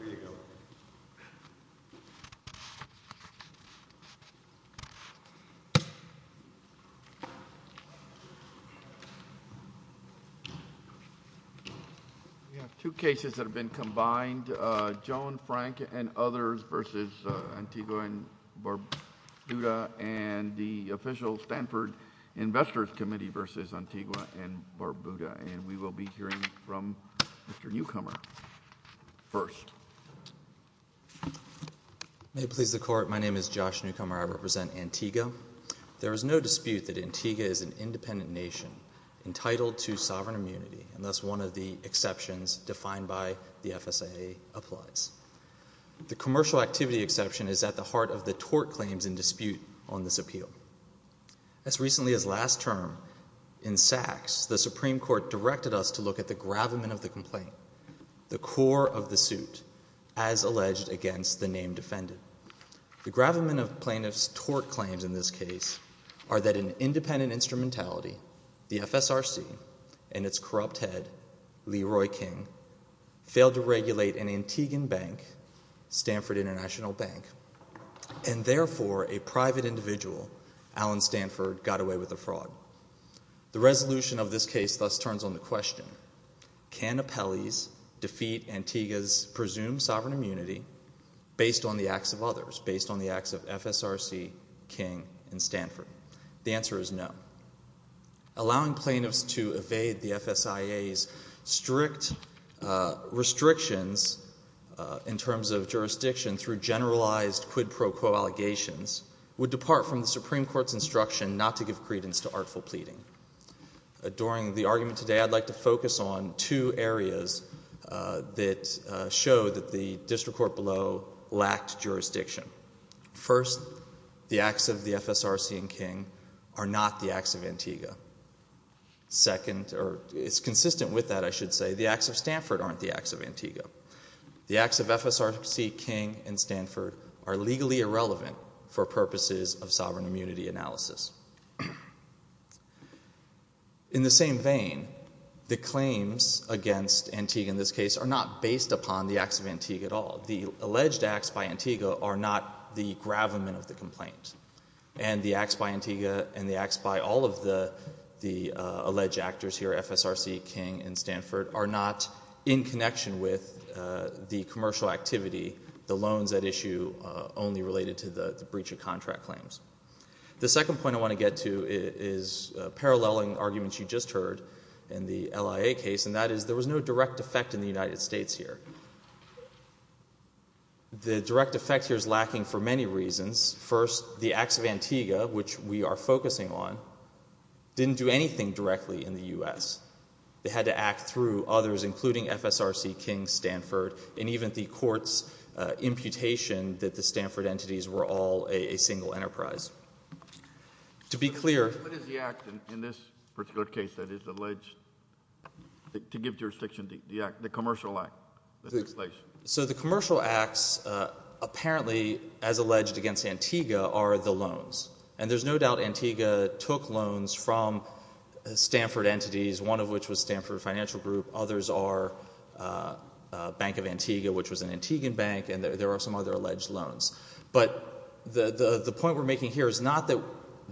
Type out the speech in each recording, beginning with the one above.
We have two cases that have been combined, Joan Frank and others v. Antigua and Barbuda and the official Stanford Investors Committee v. Antigua and Barbuda and we will be hearing from Mr. Newcomer first May it please the Court, my name is Josh Newcomer, I represent Antigua There is no dispute that Antigua is an independent nation entitled to sovereign immunity and thus one of the exceptions defined by the FSAA applies The commercial activity exception is at the heart of the tort claims in dispute on this appeal As recently as last term, in Sachs, the Supreme Court directed us to look at the gravamen of the complaint the core of the suit, as alleged against the named defendant The gravamen of plaintiff's tort claims in this case are that an independent instrumentality the FSRC and its corrupt head, Leroy King, failed to regulate an Antiguan bank, Stanford International Bank and therefore a private individual, Alan Stanford, got away with the fraud The resolution of this case thus turns on the question Can appellees defeat Antigua's presumed sovereign immunity based on the acts of others based on the acts of FSRC, King and Stanford The answer is no Allowing plaintiffs to evade the FSAA's strict restrictions in terms of jurisdiction through generalized quid pro quo allegations would depart from the Supreme Court's instruction not to give credence to artful pleading During the argument today, I'd like to focus on two areas that show that the district court below lacked jurisdiction First, the acts of the FSRC and King are not the acts of Antigua Second, or it's consistent with that I should say, the acts of Stanford aren't the acts of Antigua The acts of FSRC, King and Stanford are legally irrelevant for purposes of sovereign immunity analysis In the same vein, the claims against Antigua in this case are not based upon the acts of Antigua at all The alleged acts by Antigua are not the gravamen of the complaint And the acts by Antigua and the acts by all of the alleged actors here, FSRC, King and Stanford are not in connection with the commercial activity, the loans at issue only related to the breach of contract claims The second point I want to get to is paralleling arguments you just heard in the LIA case And that is there was no direct effect in the United States here The direct effect here is lacking for many reasons First, the acts of Antigua, which we are focusing on, didn't do anything directly in the U.S. They had to act through others, including FSRC, King, Stanford And even the court's imputation that the Stanford entities were all a single enterprise What is the act in this particular case that is alleged to give jurisdiction to the act, the commercial act? So the commercial acts apparently, as alleged against Antigua, are the loans And there's no doubt Antigua took loans from Stanford entities, one of which was Stanford Financial Group Others are Bank of Antigua, which was an Antiguan bank, and there are some other alleged loans But the point we're making here is not that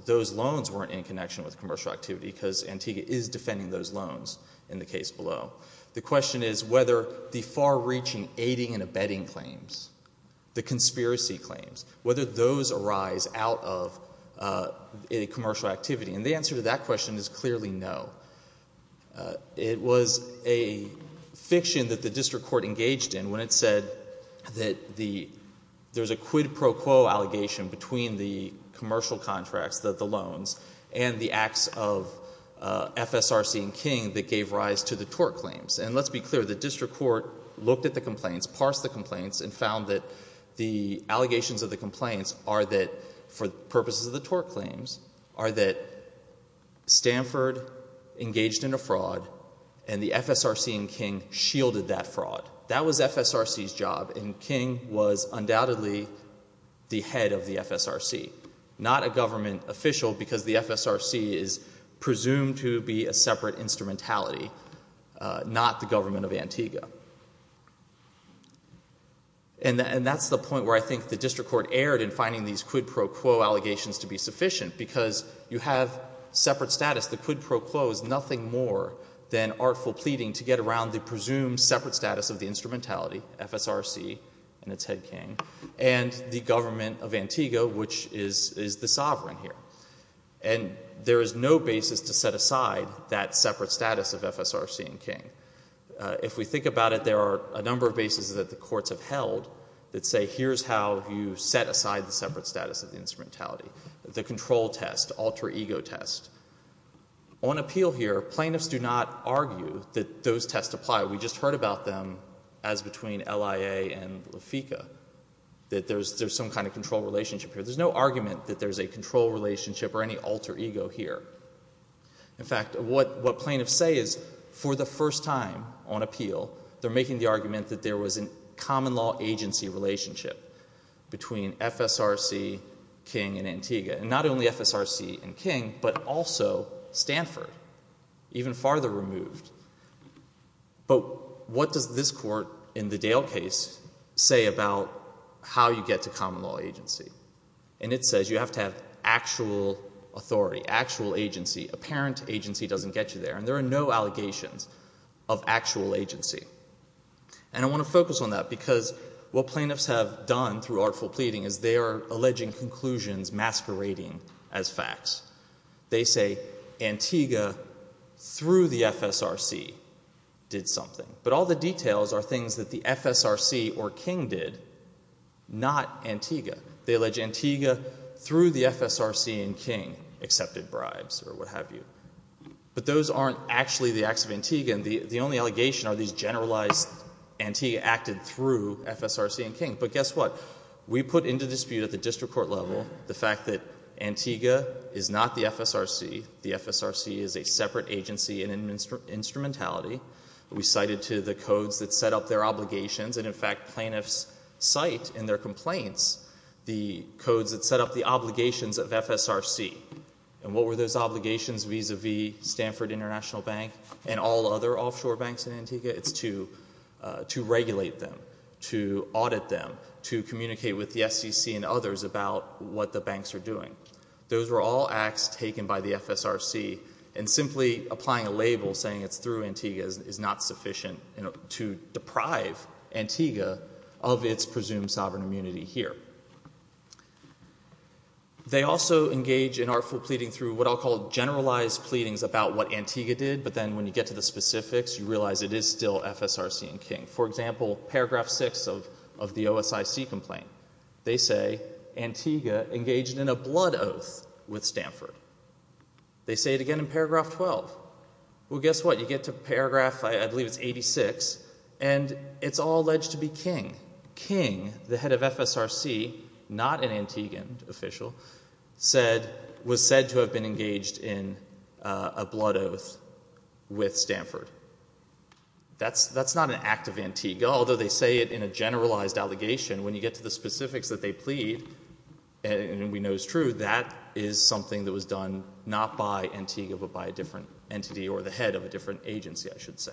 those loans weren't in connection with commercial activity Because Antigua is defending those loans in the case below The question is whether the far-reaching aiding and abetting claims, the conspiracy claims Whether those arise out of a commercial activity And the answer to that question is clearly no It was a fiction that the district court engaged in When it said that there's a quid pro quo allegation between the commercial contracts, the loans And the acts of FSRC and King that gave rise to the tort claims And let's be clear, the district court looked at the complaints, parsed the complaints And found that the allegations of the complaints are that, for purposes of the tort claims Are that Stanford engaged in a fraud, and the FSRC and King shielded that fraud That was FSRC's job, and King was undoubtedly the head of the FSRC Not a government official, because the FSRC is presumed to be a separate instrumentality Not the government of Antigua And that's the point where I think the district court erred in finding these quid pro quo allegations to be sufficient Because you have separate status, the quid pro quo is nothing more than artful pleading To get around the presumed separate status of the instrumentality, FSRC and its head, King And the government of Antigua, which is the sovereign here And there is no basis to set aside that separate status of FSRC and King If we think about it, there are a number of bases that the courts have held That say, here's how you set aside the separate status of the instrumentality The control test, alter ego test On appeal here, plaintiffs do not argue that those tests apply We just heard about them as between LIA and LAFICA That there's some kind of control relationship here There's no argument that there's a control relationship or any alter ego here In fact, what plaintiffs say is, for the first time on appeal They're making the argument that there was a common law agency relationship Between FSRC, King and Antigua And not only FSRC and King, but also Stanford, even farther removed But what does this court in the Dale case say about how you get to common law agency? And it says you have to have actual authority, actual agency Apparent agency doesn't get you there And there are no allegations of actual agency And I want to focus on that because what plaintiffs have done through artful pleading Is they are alleging conclusions masquerading as facts They say Antigua, through the FSRC, did something But all the details are things that the FSRC or King did, not Antigua They allege Antigua, through the FSRC and King, accepted bribes or what have you But those aren't actually the acts of Antigua The only allegation are these generalized Antigua acted through FSRC and King But guess what? We put into dispute at the district court level The fact that Antigua is not the FSRC The FSRC is a separate agency in instrumentality We cited to the codes that set up their obligations And in fact, plaintiffs cite in their complaints The codes that set up the obligations of FSRC And what were those obligations vis-a-vis Stanford International Bank And all other offshore banks in Antigua? It's to regulate them, to audit them, to communicate with the SEC and others About what the banks are doing Those were all acts taken by the FSRC And simply applying a label saying it's through Antigua Is not sufficient to deprive Antigua of its presumed sovereign immunity here They also engage in artful pleading through what I'll call generalized pleadings About what Antigua did But then when you get to the specifics You realize it is still FSRC and King For example, paragraph 6 of the OSIC complaint They say Antigua engaged in a blood oath with Stanford They say it again in paragraph 12 Well, guess what? You get to paragraph, I believe it's 86 And it's all alleged to be King King, the head of FSRC, not an Antiguan official Was said to have been engaged in a blood oath with Stanford That's not an act of Antigua Although they say it in a generalized allegation When you get to the specifics that they plead And we know it's true That is something that was done not by Antigua But by a different entity or the head of a different agency, I should say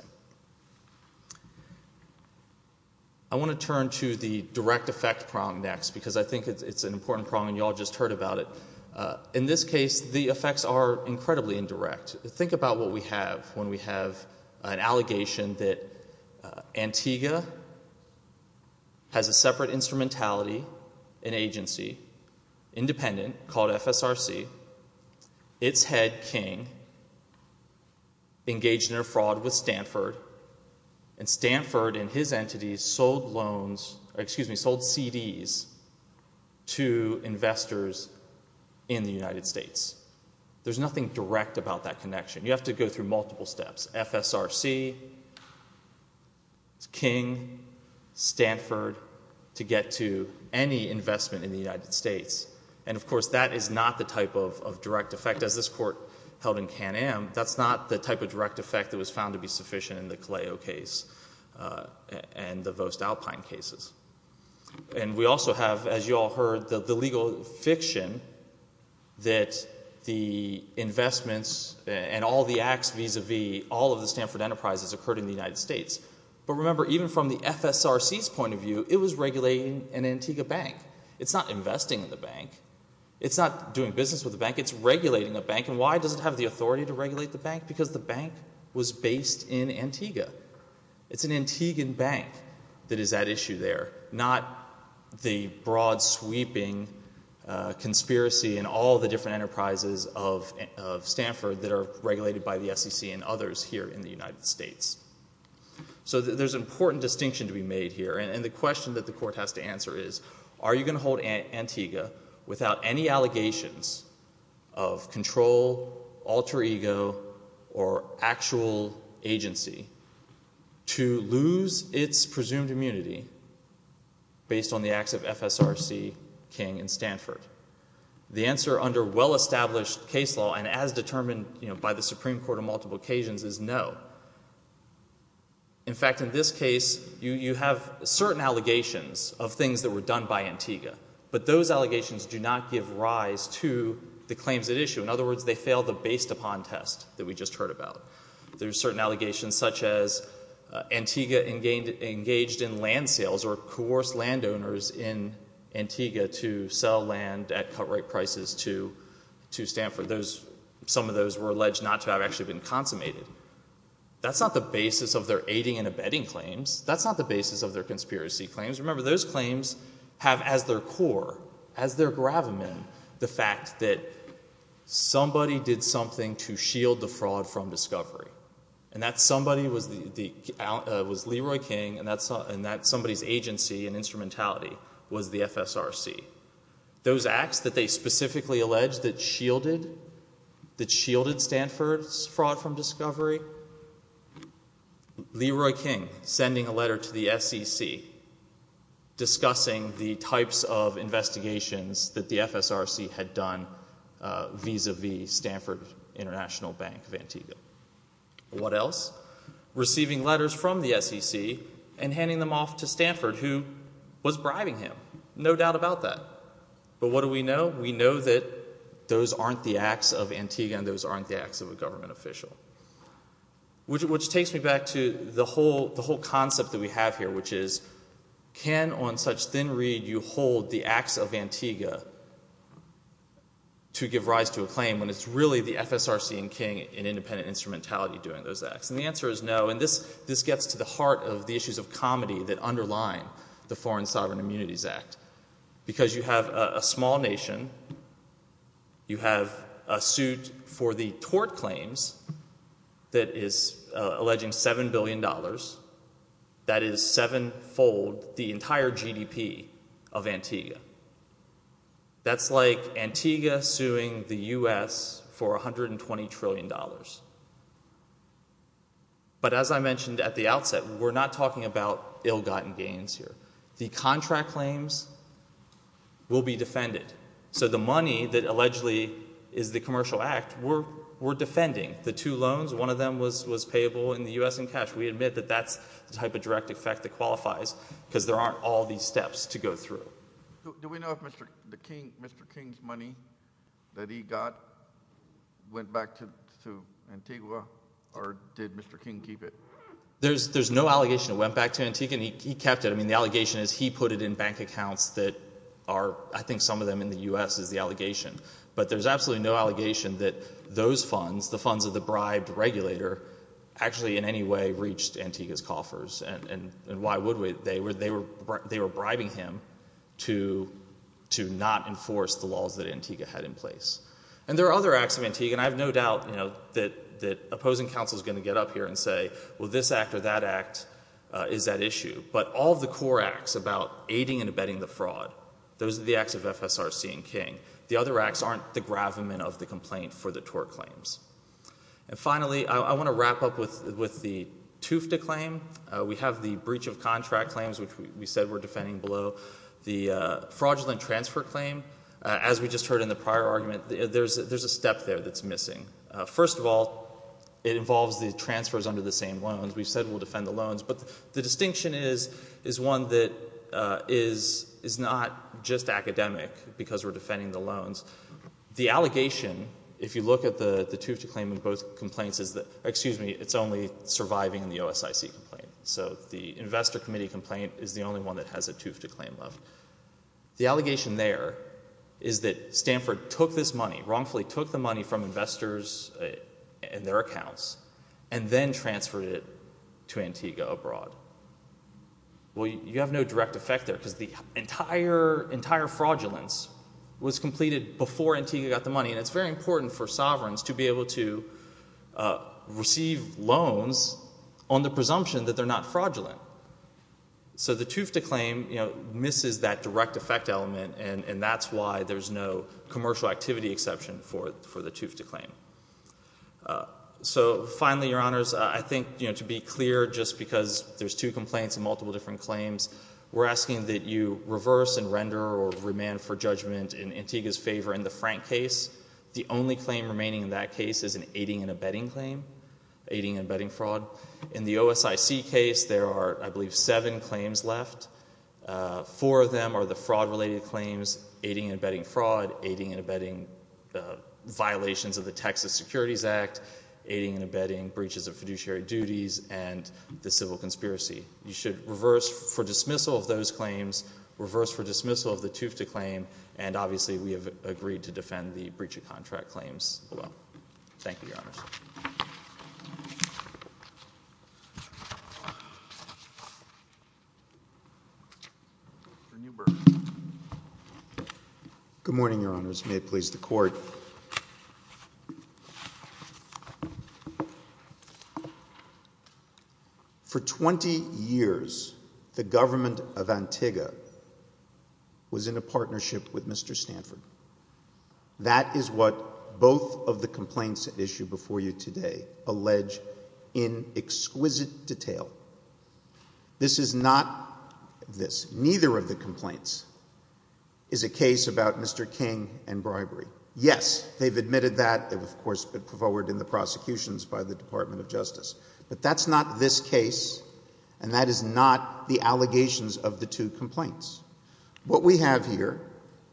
I want to turn to the direct effect prong next Because I think it's an important prong and you all just heard about it In this case, the effects are incredibly indirect Think about what we have when we have an allegation that Antigua has a separate instrumentality, an agency Independent, called FSRC It's head, King, engaged in a fraud with Stanford And Stanford and his entities sold CDs to investors in the United States There's nothing direct about that connection You have to go through multiple steps FSRC, King, Stanford to get to any investment in the United States And, of course, that is not the type of direct effect As this court held in Can-Am That's not the type of direct effect that was found to be sufficient in the Caleo case And the Voest Alpine cases And we also have, as you all heard, the legal fiction That the investments and all the acts vis-a-vis all of the Stanford enterprises Occurred in the United States But remember, even from the FSRC's point of view It was regulating an Antigua bank It's not investing in the bank It's not doing business with the bank It's regulating a bank And why does it have the authority to regulate the bank? Because the bank was based in Antigua It's an Antiguan bank that is at issue there Not the broad-sweeping conspiracy And all the different enterprises of Stanford That are regulated by the SEC and others here in the United States So there's an important distinction to be made here And the question that the court has to answer is Are you going to hold Antigua without any allegations Of control, alter ego, or actual agency To lose its presumed immunity Based on the acts of FSRC, King, and Stanford? The answer under well-established case law And as determined by the Supreme Court on multiple occasions is no In fact, in this case, you have certain allegations Of things that were done by Antigua But those allegations do not give rise to the claims at issue In other words, they fail the based-upon test that we just heard about There are certain allegations such as Antigua engaged in land sales Or coerced landowners in Antigua to sell land at cut-rate prices to Stanford Some of those were alleged not to have actually been consummated That's not the basis of their aiding and abetting claims That's not the basis of their conspiracy claims Remember, those claims have as their core, as their gravamen The fact that somebody did something to shield the fraud from discovery And that somebody was Leroy King And that somebody's agency and instrumentality was the FSRC Those acts that they specifically alleged that shielded Stanford's fraud from discovery Leroy King sending a letter to the SEC Discussing the types of investigations that the FSRC had done Vis-a-vis Stanford International Bank of Antigua What else? Receiving letters from the SEC And handing them off to Stanford who was bribing him No doubt about that But what do we know? We know that those aren't the acts of Antigua And again, those aren't the acts of a government official Which takes me back to the whole concept that we have here Which is, can on such thin reed you hold the acts of Antigua To give rise to a claim when it's really the FSRC and King In independent instrumentality doing those acts? And the answer is no And this gets to the heart of the issues of comedy that underline the Foreign Sovereign Immunities Act Because you have a small nation You have a suit for the tort claims That is alleging $7 billion That is seven-fold the entire GDP of Antigua That's like Antigua suing the U.S. for $120 trillion But as I mentioned at the outset, we're not talking about ill-gotten gains here The contract claims will be defended So the money that allegedly is the commercial act, we're defending The two loans, one of them was payable in the U.S. in cash We admit that that's the type of direct effect that qualifies Because there aren't all these steps to go through Do we know if Mr. King's money that he got went back to Antigua? Or did Mr. King keep it? There's no allegation it went back to Antigua He kept it The allegation is he put it in bank accounts I think some of them in the U.S. is the allegation But there's absolutely no allegation that those funds, the funds of the bribed regulator Actually in any way reached Antigua's coffers And why would we? They were bribing him to not enforce the laws that Antigua had in place And there are other acts of Antigua And I have no doubt that opposing counsel is going to get up here and say Well, this act or that act is at issue But all of the core acts about aiding and abetting the fraud Those are the acts of FSRC and King The other acts aren't the gravamen of the complaint for the tort claims And finally, I want to wrap up with the Tufta claim We have the breach of contract claims which we said we're defending below The fraudulent transfer claim As we just heard in the prior argument There's a step there that's missing First of all, it involves the transfers under the same loans We said we'll defend the loans But the distinction is one that is not just academic Because we're defending the loans The allegation, if you look at the Tufta claim in both complaints Excuse me, it's only surviving in the OSIC complaint So the investor committee complaint is the only one that has a Tufta claim The allegation there is that Stanford took this money Wrongfully took the money from investors and their accounts And then transferred it to Antigua abroad Well, you have no direct effect there Because the entire fraudulence was completed before Antigua got the money And it's very important for sovereigns to be able to receive loans On the presumption that they're not fraudulent So the Tufta claim misses that direct effect element And that's why there's no commercial activity exception for the Tufta claim So finally, your honors, I think to be clear Just because there's two complaints and multiple different claims We're asking that you reverse and render or remand for judgment In Antigua's favor in the Frank case The only claim remaining in that case is an aiding and abetting claim Aiding and abetting fraud In the OSIC case, there are, I believe, seven claims left Four of them are the fraud-related claims Aiding and abetting fraud, aiding and abetting The violations of the Texas Securities Act Aiding and abetting breaches of fiduciary duties And the civil conspiracy You should reverse for dismissal of those claims Reverse for dismissal of the Tufta claim And obviously we have agreed to defend the breach of contract claims Thank you, your honors Mr. Newberg Good morning, your honors May it please the court For 20 years, the government of Antigua Was in a partnership with Mr. Stanford That is what both of the complaints issued before you today Allege in exquisite detail This is not this Neither of the complaints is a case about Mr. King and bribery Yes, they've admitted that It was, of course, put forward in the prosecutions by the Department of Justice But that's not this case And that is not the allegations of the two complaints What we have here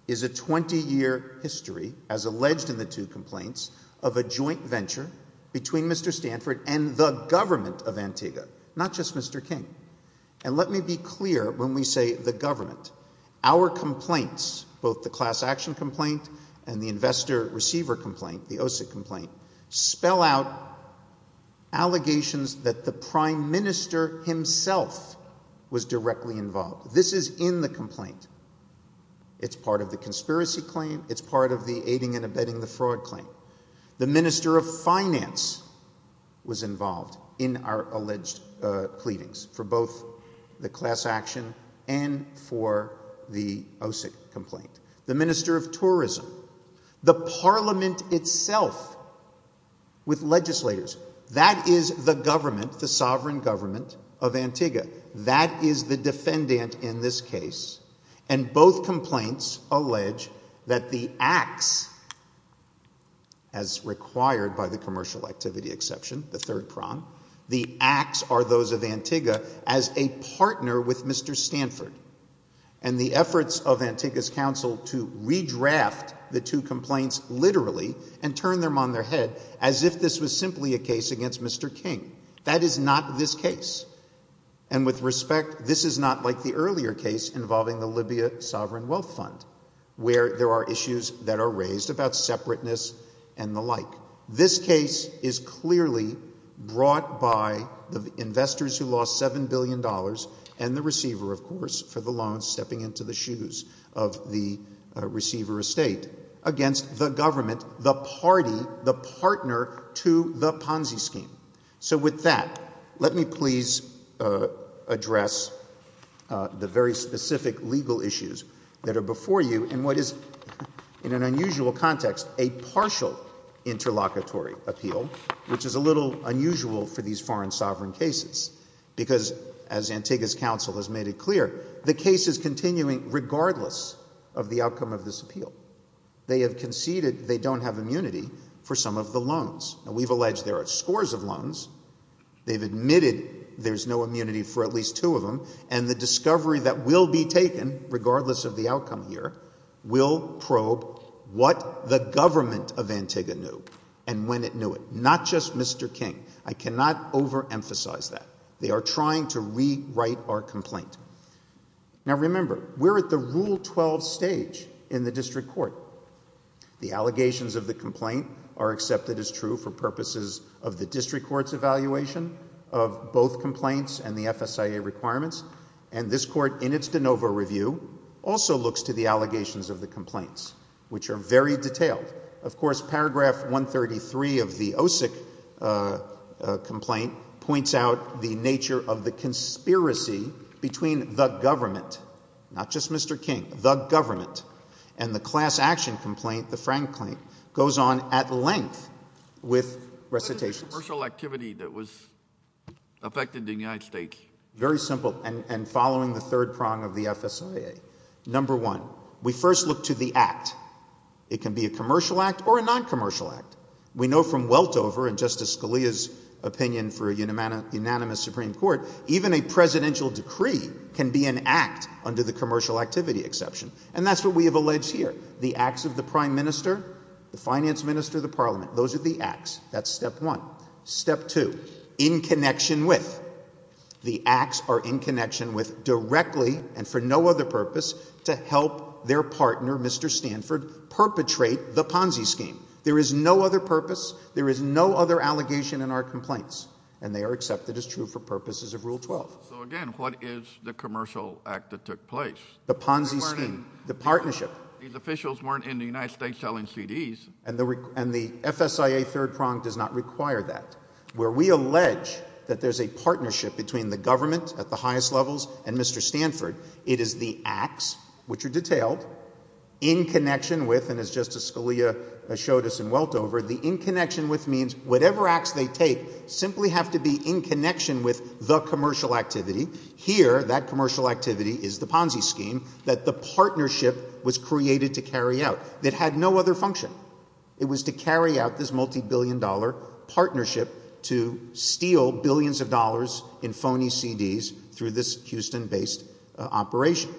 is a 20-year history As alleged in the two complaints Of a joint venture between Mr. Stanford And the government of Antigua Not just Mr. King And let me be clear when we say the government Our complaints Both the class action complaint And the investor receiver complaint The OSIC complaint Spell out allegations that the prime minister himself Was directly involved This is in the complaint It's part of the conspiracy claim It's part of the aiding and abetting the fraud claim The minister of finance Was involved in our alleged pleadings For both the class action And for the OSIC complaint The minister of tourism The parliament itself With legislators That is the government The sovereign government of Antigua That is the defendant in this case And both complaints allege That the acts As required by the commercial activity exception The third prong The acts are those of Antigua As a partner with Mr. Stanford And the efforts of Antigua's council To redraft the two complaints literally And turn them on their head As if this was simply a case against Mr. King That is not this case And with respect This is not like the earlier case Involving the Libya sovereign wealth fund Where there are issues that are raised About separateness and the like This case is clearly brought by The investors who lost 7 billion dollars And the receiver of course For the loans stepping into the shoes Of the receiver estate Against the government The party, the partner To the Ponzi scheme So with that Let me please address The very specific legal issues That are before you And what is in an unusual context A partial interlocutory appeal Which is a little unusual For these foreign sovereign cases Because as Antigua's council Has made it clear The case is continuing regardless Of the outcome of this appeal They have conceded they don't have immunity For some of the loans And we've alleged there are scores of loans They've admitted there's no immunity For at least two of them And the discovery that will be taken Regardless of the outcome here Will probe What the government of Antigua knew And when it knew it Not just Mr. King I cannot overemphasize that They are trying to rewrite our complaint Now remember We're at the rule 12 stage In the district court The allegations of the complaint Are accepted as true for purposes Of the district court's evaluation Of both complaints And the FSIA requirements And this court in its de novo review Also looks to the allegations of the complaints Which are very detailed Of course paragraph 133 Of the OSIC Complaint points out The nature of the conspiracy Between the government Not just Mr. King The government And the class action complaint The Frank claim Goes on at length With recitations What is the commercial activity that was Affected in the United States Very simple and following the third prong of the FSIA Number one We first look to the act It can be a commercial act or a non-commercial act We know from Weltover And Justice Scalia's opinion For a unanimous Supreme Court Even a presidential decree Can be an act under the commercial activity exception And that's what we have alleged here The acts of the prime minister The finance minister, the parliament Those are the acts, that's step one Step two, in connection with The acts are in connection with Directly and for no other purpose To help their partner Mr. Stanford Perpetrate the Ponzi scheme There is no other purpose There is no other allegation in our complaints And they are accepted as true for purposes of rule 12 So again, what is the commercial act that took place? The Ponzi scheme The partnership These officials weren't in the United States selling CDs And the FSIA third prong does not require that Where we allege That there is a partnership Between the government at the highest levels And Mr. Stanford It is the acts, which are detailed In connection with And as Justice Scalia showed us in Weltover The in connection with means Whatever acts they take Simply have to be in connection with the commercial activity Here, that commercial activity Is the Ponzi scheme That the partnership was created to carry out That had no other function It was to carry out this multi-billion dollar Partnership To steal billions of dollars In phony CDs Through this Houston based operation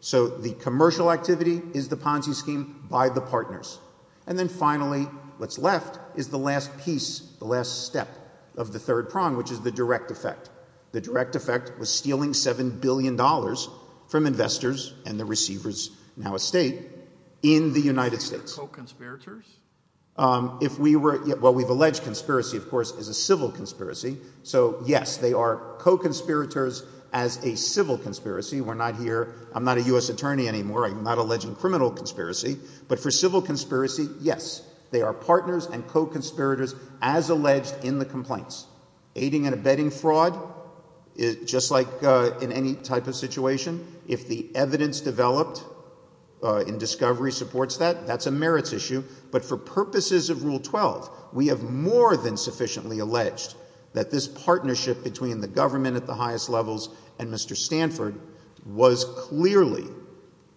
So the commercial activity Is the Ponzi scheme by the partners And then finally, what's left Is the last piece, the last step Of the third prong Which is the direct effect The direct effect was stealing Seven billion dollars from investors And the receivers, now a state In the United States Are they co-conspirators? If we were, well we've alleged conspiracy Of course is a civil conspiracy So yes, they are co-conspirators As a civil conspiracy We're not here, I'm not a U.S. attorney anymore I'm not alleging criminal conspiracy But for civil conspiracy, yes They are partners and co-conspirators As alleged in the complaints Aiding and abetting fraud Just like in any Type of situation, if the evidence Developed In discovery supports that, that's a merits issue But for purposes of Rule 12 We have more than sufficiently Alleged that this partnership Between the government at the highest levels And Mr. Stanford Was clearly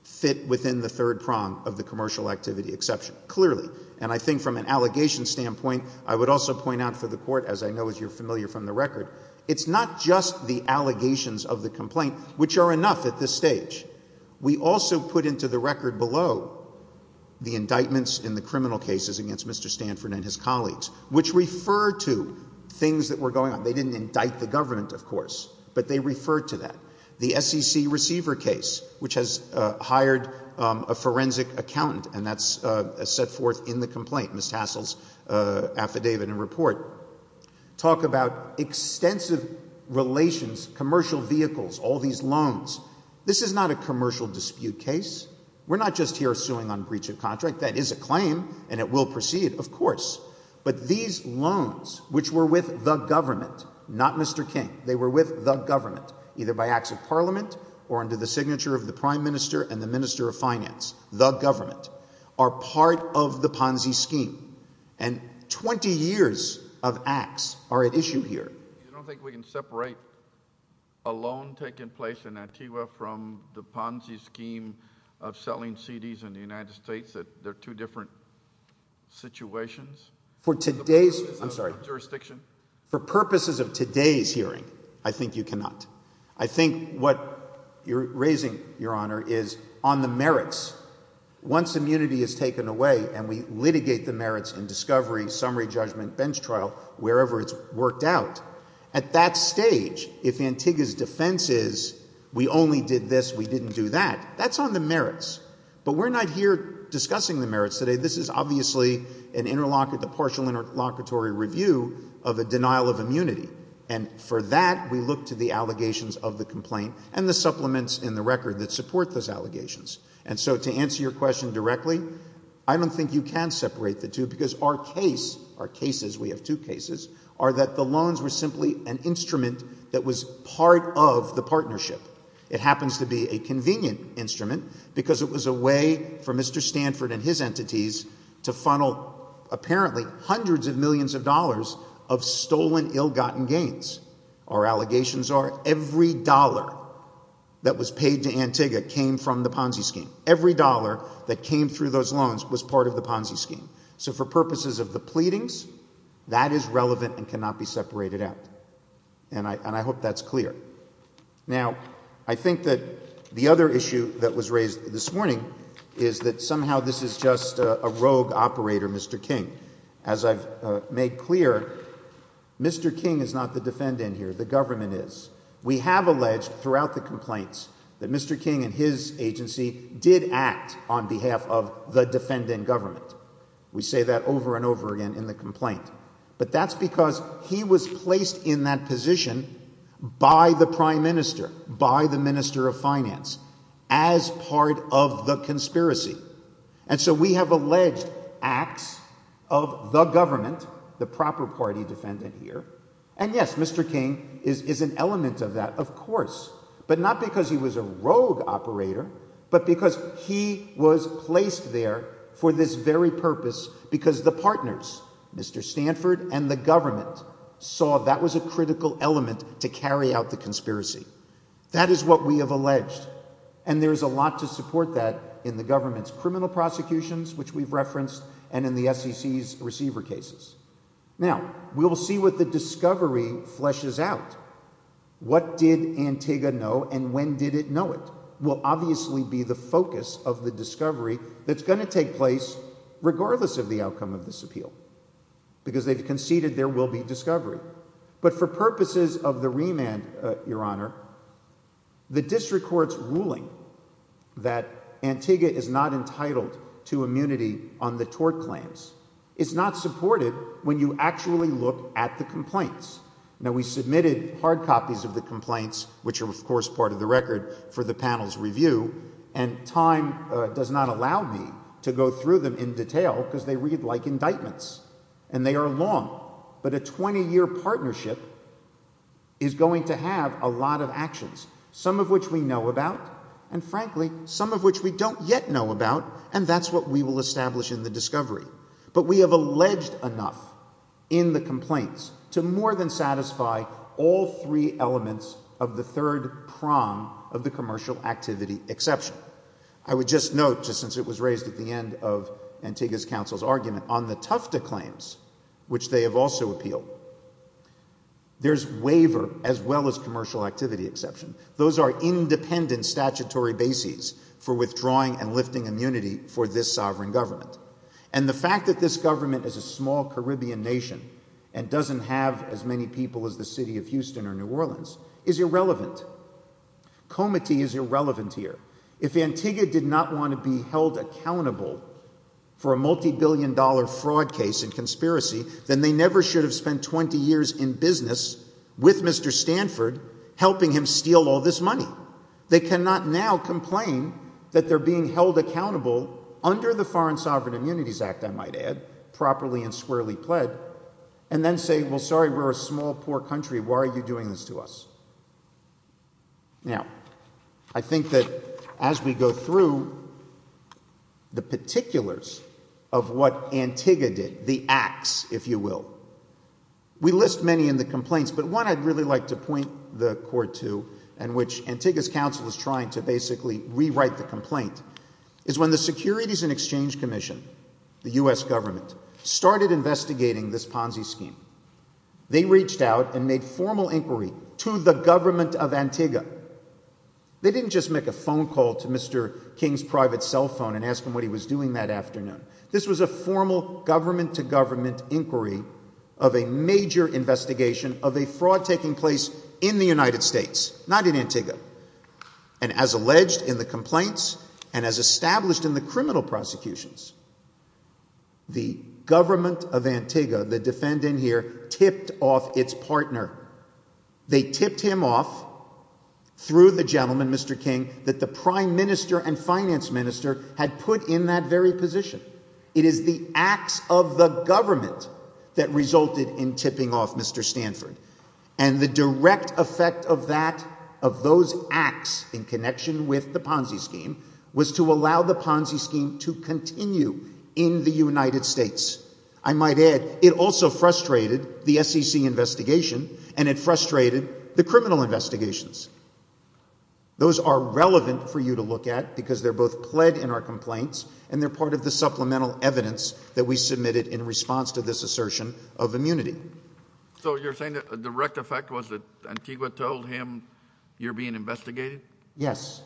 Fit within the third prong of the commercial Activity exception, clearly And I think from an allegation standpoint I would also point out for the court As I know you're familiar from the record It's not just the allegations of the complaint Which are enough at this stage We also put into the record Below The indictments in the criminal cases Against Mr. Stanford and his colleagues Which refer to things that were going on They didn't indict the government of course But they refer to that The SEC receiver case Which has hired a forensic Accountant and that's set forth In the complaint, Ms. Tassel's Affidavit and report Talk about extensive Relations, commercial vehicles All these loans This is not a commercial dispute case We're not just here suing on breach of contract That is a claim and it will proceed Of course, but these loans Which were with the government Not Mr. King, they were with the government Either by acts of parliament Or under the signature of the Prime Minister And the Minister of Finance, the government Are part of the Ponzi scheme And 20 years Of acts are at issue here You don't think we can separate A loan taking place In Antigua from the Ponzi scheme Of selling CDs in the United States That they're two different Situations? For today's, I'm sorry For purposes of today's hearing I think you cannot I think what you're raising Your Honor is on the merits Once immunity is taken away And we litigate the merits In discovery, summary judgment, bench trial Wherever it's worked out At that stage, if Antigua's Defense is we only Did this, we didn't do that That's on the merits But we're not here discussing the merits today This is obviously a partial Interlocutory review of a denial Of immunity and for that We look to the allegations of the complaint And the supplements in the record That support those allegations And so to answer your question directly I don't think you can separate the two Because our case, our cases We have two cases, are that the loans Were simply an instrument that was Part of the partnership It happens to be a convenient instrument Because it was a way for Mr. Stanford and his entities To funnel apparently Hundreds of millions of dollars Of stolen ill-gotten gains Our allegations are every dollar That was paid to Antigua Came from the Ponzi scheme Every dollar that came through those loans Was part of the Ponzi scheme So for purposes of the pleadings That is relevant and cannot be separated out And I hope that's clear Now, I think that The other issue that was raised This morning is that somehow This is just a rogue operator Mr. King As I've made clear Mr. King is not the defendant here The government is We have alleged throughout the complaints That Mr. King and his agency Did act on behalf of the defendant government We say that over and over again In the complaint But that's because he was placed In that position By the Prime Minister By the Minister of Finance As part of the conspiracy And so we have alleged Acts of the government The proper party defendant here And yes, Mr. King Is an element of that, of course But not because he was a rogue operator But because he Was placed there For this very purpose Because the partners, Mr. Stanford And the government Saw that was a critical element To carry out the conspiracy That is what we have alleged And there is a lot to support that In the government's criminal prosecutions Which we've referenced And in the SEC's receiver cases Now, we'll see what The discovery fleshes out What did Antigua know And when did it know it Will obviously be the focus Of the discovery that's going to take place Regardless of the outcome of this appeal Because they've conceded There will be discovery But for purposes of the remand Your Honor The district court's ruling That Antigua is not entitled To immunity on the tort claims Is not supported When you actually look at the complaints Now, we submitted hard copies Of the complaints Which are, of course, part of the record For the panel's review And time does not allow me To go through them in detail Because they read like indictments And they are long But a 20-year partnership Is going to have a lot of actions Some of which we know about And frankly, some of which we don't yet know about And that's what we will establish In the discovery But we have alleged enough In the complaints To more than satisfy all three elements Of the third prong Of the commercial activity exception I would just note Just since it was raised at the end of Antigua's counsel's argument On the Tufta claims Which they have also appealed There's waiver As well as commercial activity exception Those are independent statutory bases For withdrawing and lifting immunity For this sovereign government And the fact that this government Is a small Caribbean nation And doesn't have as many people As the city of Houston or New Orleans Is irrelevant Comity is irrelevant here If Antigua did not want to be held accountable For a multi-billion dollar Fraud case and conspiracy Then they never should have spent 20 years In business with Mr. Stanford Helping him steal all this money They cannot now complain That they're being held accountable Under the Foreign Sovereign Immunities Act I might add Properly and squarely pled And then say well sorry we're a small poor country Why are you doing this to us Now I think that as we go through The particulars Of what Antigua did The acts if you will We list many in the complaints But one I'd really like to point the court to And which Antigua's council Is trying to basically rewrite the complaint Is when the Securities and Exchange Commission The U.S. government Started investigating this Ponzi scheme They reached out And made formal inquiry To the government of Antigua They didn't just make a phone call To Mr. King's private cell phone And ask him what he was doing that afternoon This was a formal government to government Inquiry Of a major investigation Of a fraud taking place In the United States Not in Antigua And as alleged in the complaints And as established in the criminal prosecutions The government Of Antigua The defendant here Tipped off its partner They tipped him off Through the gentleman Mr. King That the Prime Minister and Finance Minister Had put in that very position It is the acts of the Government that resulted In tipping off Mr. Stanford And the direct effect of that Of those acts In connection with the Ponzi scheme Was to allow the Ponzi scheme To continue in the United States I might add It also frustrated the SEC investigation And it frustrated The criminal investigations Those are relevant For you to look at because they're both Led in our complaints And they're part of the supplemental evidence That we submitted in response to this assertion Of immunity So you're saying the direct effect was that Antigua told him you're being investigated? Yes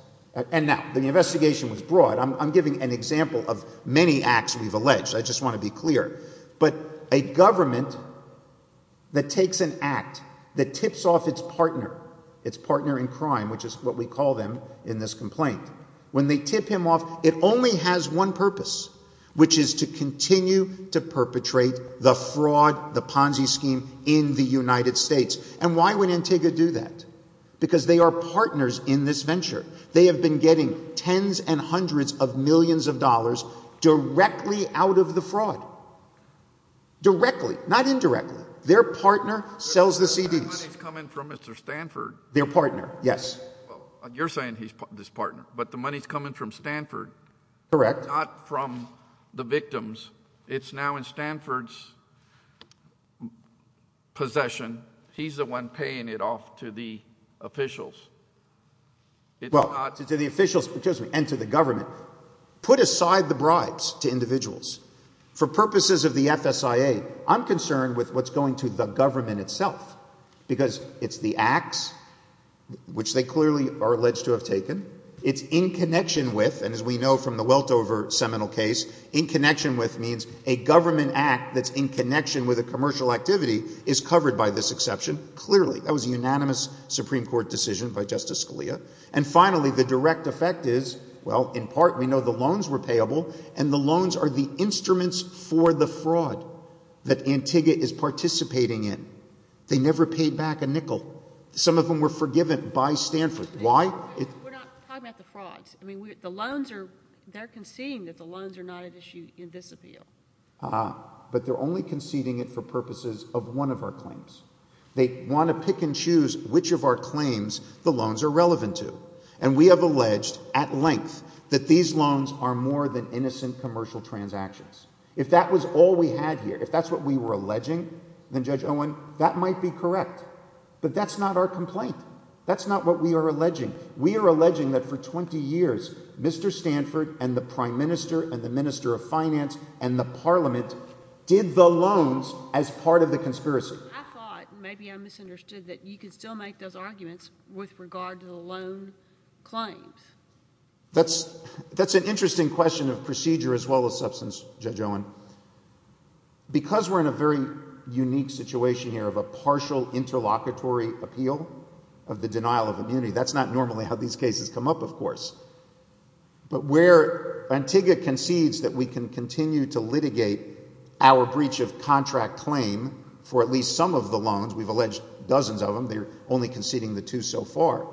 And now the investigation was broad I'm giving an example of many acts We've alleged I just want to be clear But a government That takes an act That tips off its partner Its partner in crime which is what we call them In this complaint When they tip him off It only has one purpose Which is to continue to perpetrate The fraud, the Ponzi scheme In the United States And why would Antigua do that? Because they are partners in this venture They have been getting tens and hundreds Of millions of dollars Directly out of the fraud Directly Not indirectly Their partner sells the CDs The money's coming from Mr. Stanford Their partner, yes You're saying he's this partner But the money's coming from Stanford Not from the victims It's now in Stanford's Possession He's the one paying it off To the officials To the officials And to the government Put aside the bribes to individuals For purposes of the FSIA I'm concerned with what's going to Happen to the government itself Because it's the acts Which they clearly are alleged to have taken It's in connection with And as we know from the Weltover seminal case In connection with means A government act that's in connection With a commercial activity Is covered by this exception Clearly that was a unanimous Supreme Court decision By Justice Scalia And finally the direct effect is Well in part we know the loans were payable And the loans are the instruments for the fraud That Antigua is participating in They never paid back a nickel Some of them were forgiven by Stanford Why? We're not talking about the frauds The loans are, they're conceding that the loans are not at issue In this appeal But they're only conceding it for purposes Of one of our claims They want to pick and choose which of our claims The loans are relevant to And we have alleged at length That these loans are more than Innocent commercial transactions If that was all we had here If that's what we were alleging Then Judge Owen, that might be correct But that's not our complaint That's not what we are alleging We are alleging that for 20 years Mr. Stanford and the Prime Minister And the Minister of Finance And the Parliament did the loans As part of the conspiracy I thought, maybe I misunderstood That you could still make those arguments With regard to the loan claims That's an interesting question In the question of procedure as well as substance Judge Owen Because we're in a very unique situation here Of a partial interlocutory appeal Of the denial of immunity That's not normally how these cases come up Of course But where Antigua concedes That we can continue to litigate Our breach of contract claim For at least some of the loans We've alleged dozens of them They're only conceding the two so far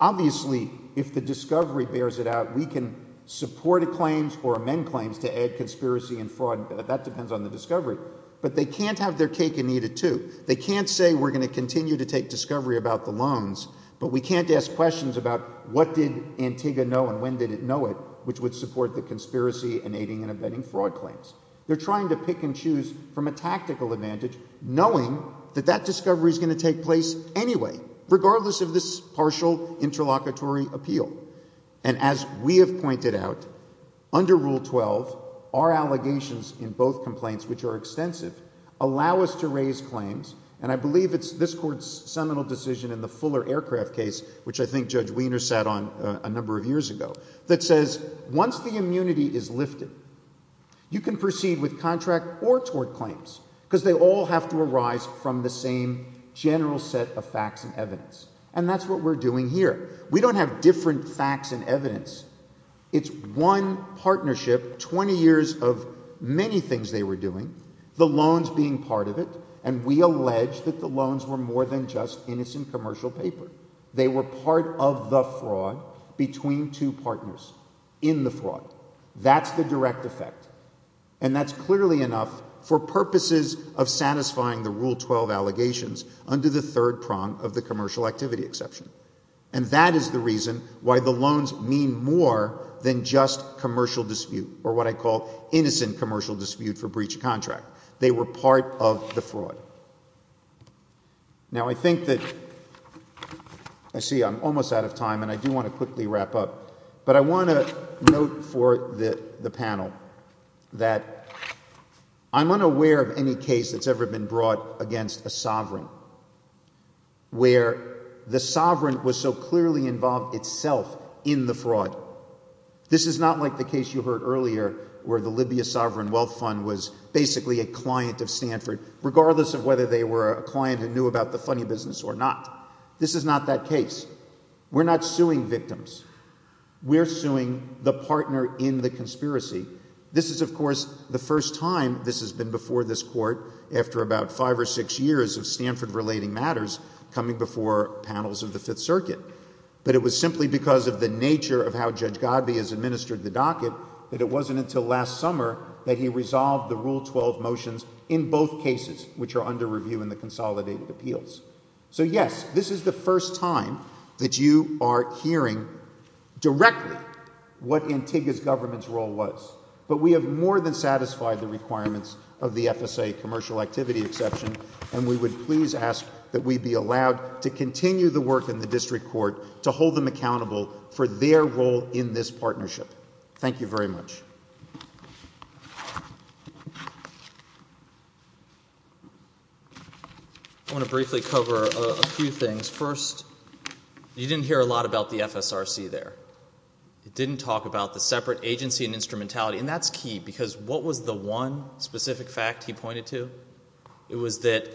Obviously If the discovery bears it out We can support a claim Or amend claims to add conspiracy and fraud That depends on the discovery But they can't have their cake and eat it too They can't say we're going to continue To take discovery about the loans But we can't ask questions about What did Antigua know and when did it know it Which would support the conspiracy And aiding and abetting fraud claims They're trying to pick and choose from a tactical advantage Knowing that that discovery Is going to take place anyway Regardless of this partial interlocutory appeal And as we have pointed out Under Rule 12 Our allegations in both complaints Which are extensive Allow us to raise claims And I believe it's this court's Seminal decision in the Fuller Aircraft case Which I think Judge Weiner sat on A number of years ago That says once the immunity is lifted You can proceed with contract Or tort claims Because they all have to arise from the same General set of facts and evidence And that's what we're doing here We don't have different facts and evidence It's one partnership 20 years of Many things they were doing The loans being part of it And we allege that the loans were more than just Innocent commercial paper They were part of the fraud Between two partners In the fraud That's the direct effect And that's clearly enough For purposes of satisfying The Rule 12 allegations Under the third prong of the commercial activity exception And that is the reason Why the loans mean more Than just commercial dispute Or what I call innocent commercial dispute For breach of contract They were part of the fraud Now I think that I see I'm almost out of time And I do want to quickly wrap up But I want to note For the panel That I'm unaware of any case that's ever been brought Against a sovereign Where The sovereign was so clearly involved Itself in the fraud This is not like the case you heard earlier Where the Libya sovereign wealth fund Was basically a client of Stanford Regardless of whether they were a client Who knew about the funny business or not This is not that case We're not suing victims We're suing the partner In the conspiracy This is of course the first time This has been before this court After about five or six years of Stanford Relating matters coming before Panels of the Fifth Circuit But it was simply because of the nature Of how Judge Godby has administered the docket That it wasn't until last summer That he resolved the Rule 12 motions In both cases which are under review In the consolidated appeals So yes, this is the first time That you are hearing Directly what Antigua's Government's role was But we have more than satisfied the requirements Of the FSA commercial activity exception And we would please ask That we be allowed to continue the work In the district court to hold them accountable For their role in this partnership Thank you very much I want to briefly cover a few things First You didn't hear a lot about the FSRC there It didn't talk about the Separate agency and instrumentality And that's key because what was the one Specific fact he pointed to? It was that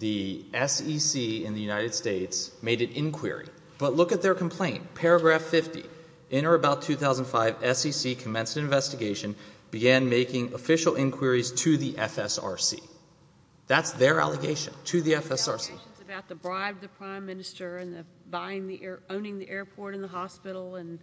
The SEC in the United States Made an inquiry But look at their complaint, paragraph 50 In or about 2005 SEC commenced an investigation Began making official inquiries to the FSRC That's their allegation To the FSRC I have two questions About the bribe to the prime minister And owning the airport and the hospital And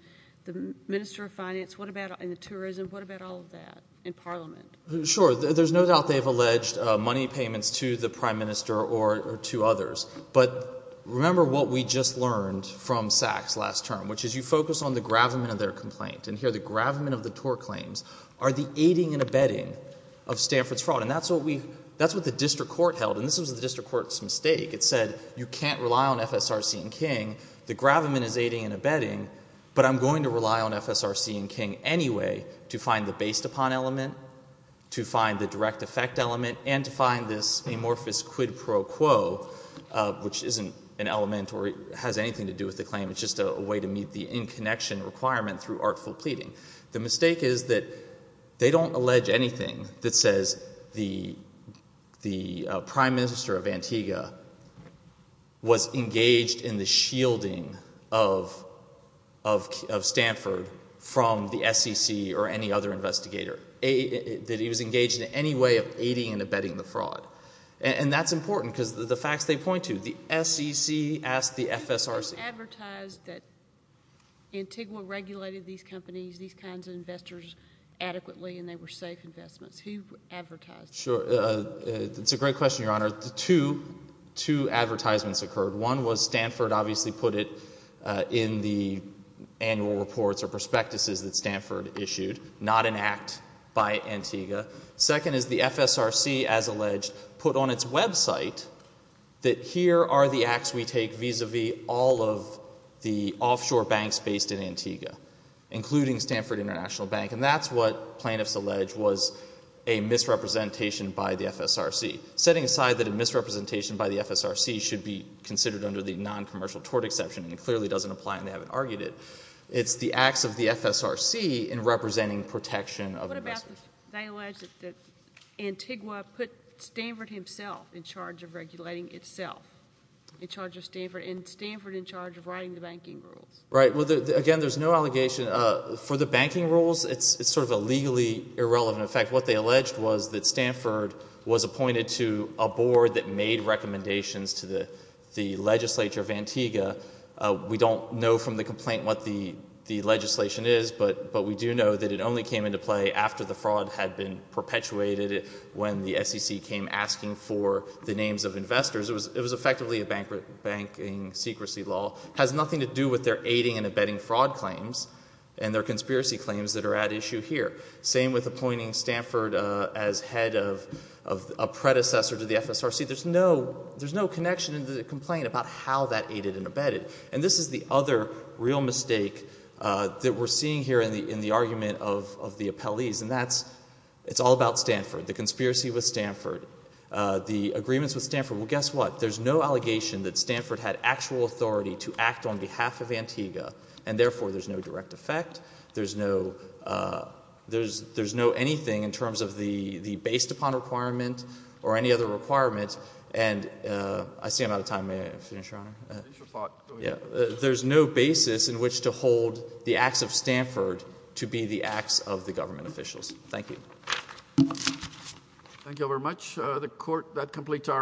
the minister of finance And the tourism What about all of that in parliament? Sure, there's no doubt they've alleged Money payments to the prime minister Or to others But remember what we just learned From Sachs last term Which is you focus on the gravamen of their complaint And here the gravamen of the TOR claims Are the aiding and abetting Of Stanford's fraud And that's what the district court held And this was the district court's mistake It said you can't rely on FSRC and King The gravamen is aiding and abetting But I'm going to rely on FSRC and King Anyway to find the based upon element To find the direct effect element And to find this amorphous Quid pro quo Which isn't an element Or has anything to do with the claim It's just a way to meet the in-connection requirement Through artful pleading The mistake is that They don't allege anything That says the Prime minister of Antigua Was engaged In the shielding Of Stanford From the SEC Or any other investigator That he was engaged in any way of Aiding and abetting the fraud And that's important because the facts they point to The SEC asked the FSRC It's advertised that Antigua regulated these companies These kinds of investors adequately And they were safe investments Who advertised it? It's a great question your honor Two advertisements occurred One was Stanford obviously put it In the annual reports Or prospectuses that Stanford issued Not an act by Antigua Second is the FSRC As alleged put on its website That here are the acts We take vis-a-vis all of The offshore banks based in Antigua Including Stanford International Bank And that's what plaintiffs allege Was a misrepresentation By the FSRC Setting aside that a misrepresentation by the FSRC Should be considered under the non-commercial tort exception And it clearly doesn't apply and they haven't argued it It's the acts of the FSRC In representing protection Of investors They allege that Antigua put Stanford Himself in charge of regulating Itself In charge of Stanford And Stanford in charge of writing the banking rules Right well again there's no allegation For the banking rules It's sort of a legally irrelevant effect What they alleged was that Stanford Was appointed to a board That made recommendations to the Legislature of Antigua We don't know from the complaint What the legislation is But we do know that it only came into play After the fraud had been perpetuated When the SEC came asking For the names of investors It was effectively a banking Secrecy law, has nothing to do with Their aiding and abetting fraud claims And their conspiracy claims that are at issue Here, same with appointing Stanford As head of A predecessor to the FSRC There's no connection in the complaint About how that aided and abetted And this is the other real mistake That we're seeing here In the argument of the appellees And that's, it's all about Stanford The conspiracy with Stanford The agreements with Stanford, well guess what There's no allegation that Stanford had Actual authority to act on behalf of Antigua and therefore there's no direct Effect, there's no There's no anything in terms Of the based upon requirement Or any other requirement And I see I'm out of time May I finish your honor? There's no basis in which to Hold the acts of Stanford To be the acts of the government officials Thank you Thank you all very much The court, that completes our